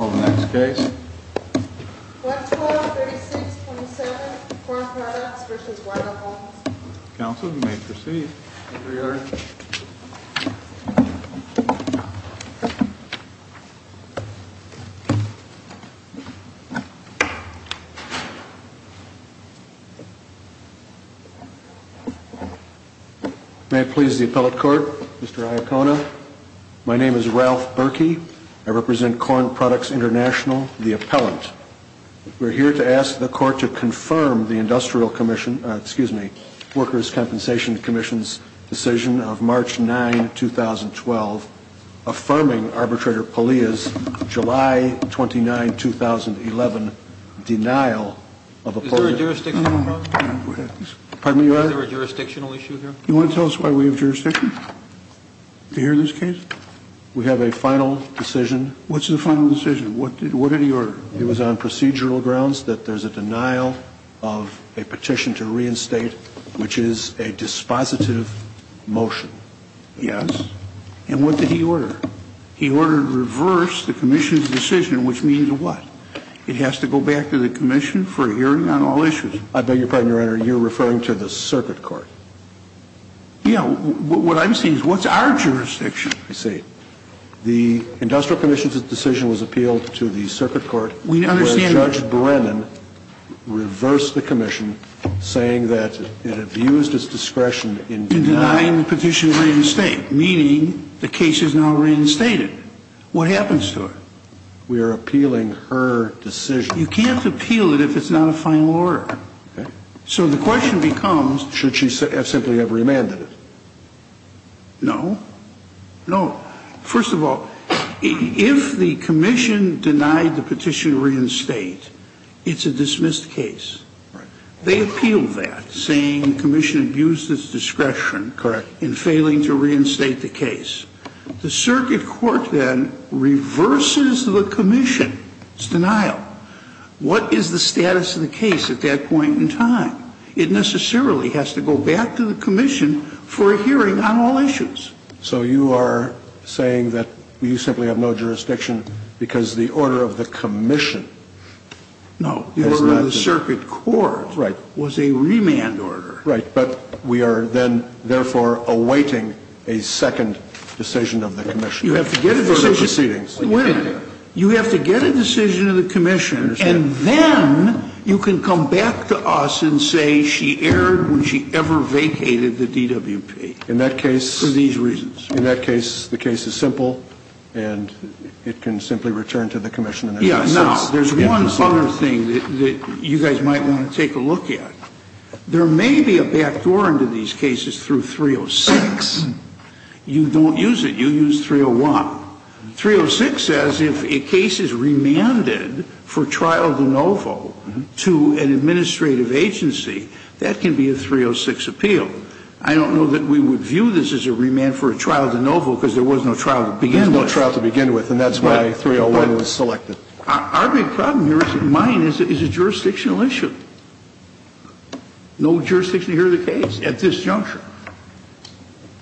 1236.27, Corn Products v. YRCona Council, you may proceed. May it please the appellate court, Mr. Iacona, my name is Ralph Berkey, I represent Corn Products International, the appellant. We're here to ask the court to confirm the Industrial Commission, excuse me, Workers' Compensation Commission's decision of March 9, 2012, affirming Arbitrator Palia's July 29, 2011, denial of a... Is there a jurisdictional issue here? You want to tell us why we have jurisdiction? Do you hear this case? We have a final decision. What's the final decision? What did he order? It was on procedural grounds that there's a denial of a petition to reinstate, which is a dispositive motion. Yes. And what did he order? He ordered reverse the Commission's decision, which means what? It has to go back to the Commission for a hearing on all issues. I beg your pardon, Your Honor, you're referring to the circuit court. Yeah, what I'm saying is what's our jurisdiction? I see. The Industrial Commission's decision was appealed to the circuit court... We understand... ...whereas Judge Brennan reversed the Commission, saying that it abused its discretion in denying... In denying the petition to reinstate, meaning the case is now reinstated. What happens to it? We are appealing her decision. You can't appeal it if it's not a final order. Okay. So the question becomes... Should she simply have remanded it? No. No. First of all, if the Commission denied the petition to reinstate, it's a dismissed case. Right. They appealed that, saying the Commission abused its discretion... Correct. ...in failing to reinstate the case. The circuit court then reverses the Commission's denial. What is the status of the case at that point in time? It necessarily has to go back to the Commission for a hearing on all issues. So you are saying that you simply have no jurisdiction because the order of the Commission... No. ...has not been... The order of the circuit court... Right. ...was a remand order. Right. But we are then, therefore, awaiting a second decision of the Commission... You have to get a decision... ...before the proceedings. You have to get a decision of the Commission... I understand. ...and then you can come back to us and say she erred when she ever vacated the DWP... In that case... ...for these reasons. In that case, the case is simple and it can simply return to the Commission... Yes. Now, there is one other thing that you guys might want to take a look at. There may be a backdoor into these cases through 306. You don't use it. You use 301. 306 says if a case is remanded for trial de novo to an administrative agency, that can be a 306 appeal. I don't know that we would view this as a remand for a trial de novo because there was no trial to begin with. There was no trial to begin with and that's why 301 was selected. Our big problem here is that mine is a jurisdictional issue. No jurisdiction here in the case at this juncture.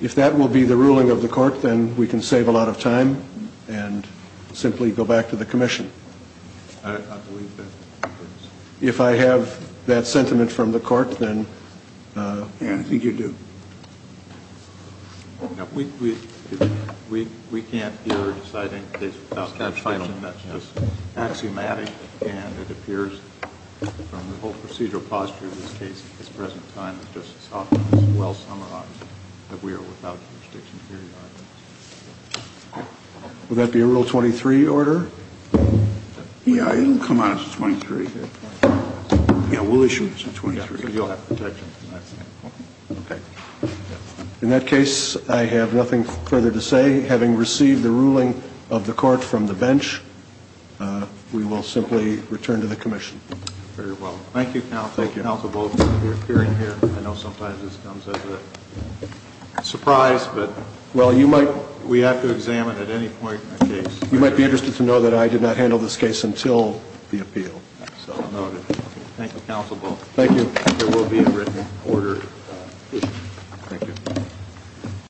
If that will be the ruling of the court, then we can save a lot of time and simply go back to the Commission. I believe that. If I have that sentiment from the court, then I think you do. We can't either decide any case without jurisdiction. That's just axiomatic and it appears from the whole procedural posture of this case at this present time that Justice Hoffman is well summarized that we are without jurisdiction here. Will that be a Rule 23 order? Yeah, it'll come out as a 23. Yeah, we'll issue it as a 23. Okay. In that case, I have nothing further to say. Having received the ruling of the court from the bench, we will simply return to the Commission. Very well. Thank you, counsel. Thank you. I know sometimes this comes as a surprise, but we have to examine at any point in the case. You might be interested to know that I did not handle this case until the appeal. So noted. Thank you, counsel. Thank you. There will be a written order issued. Thank you.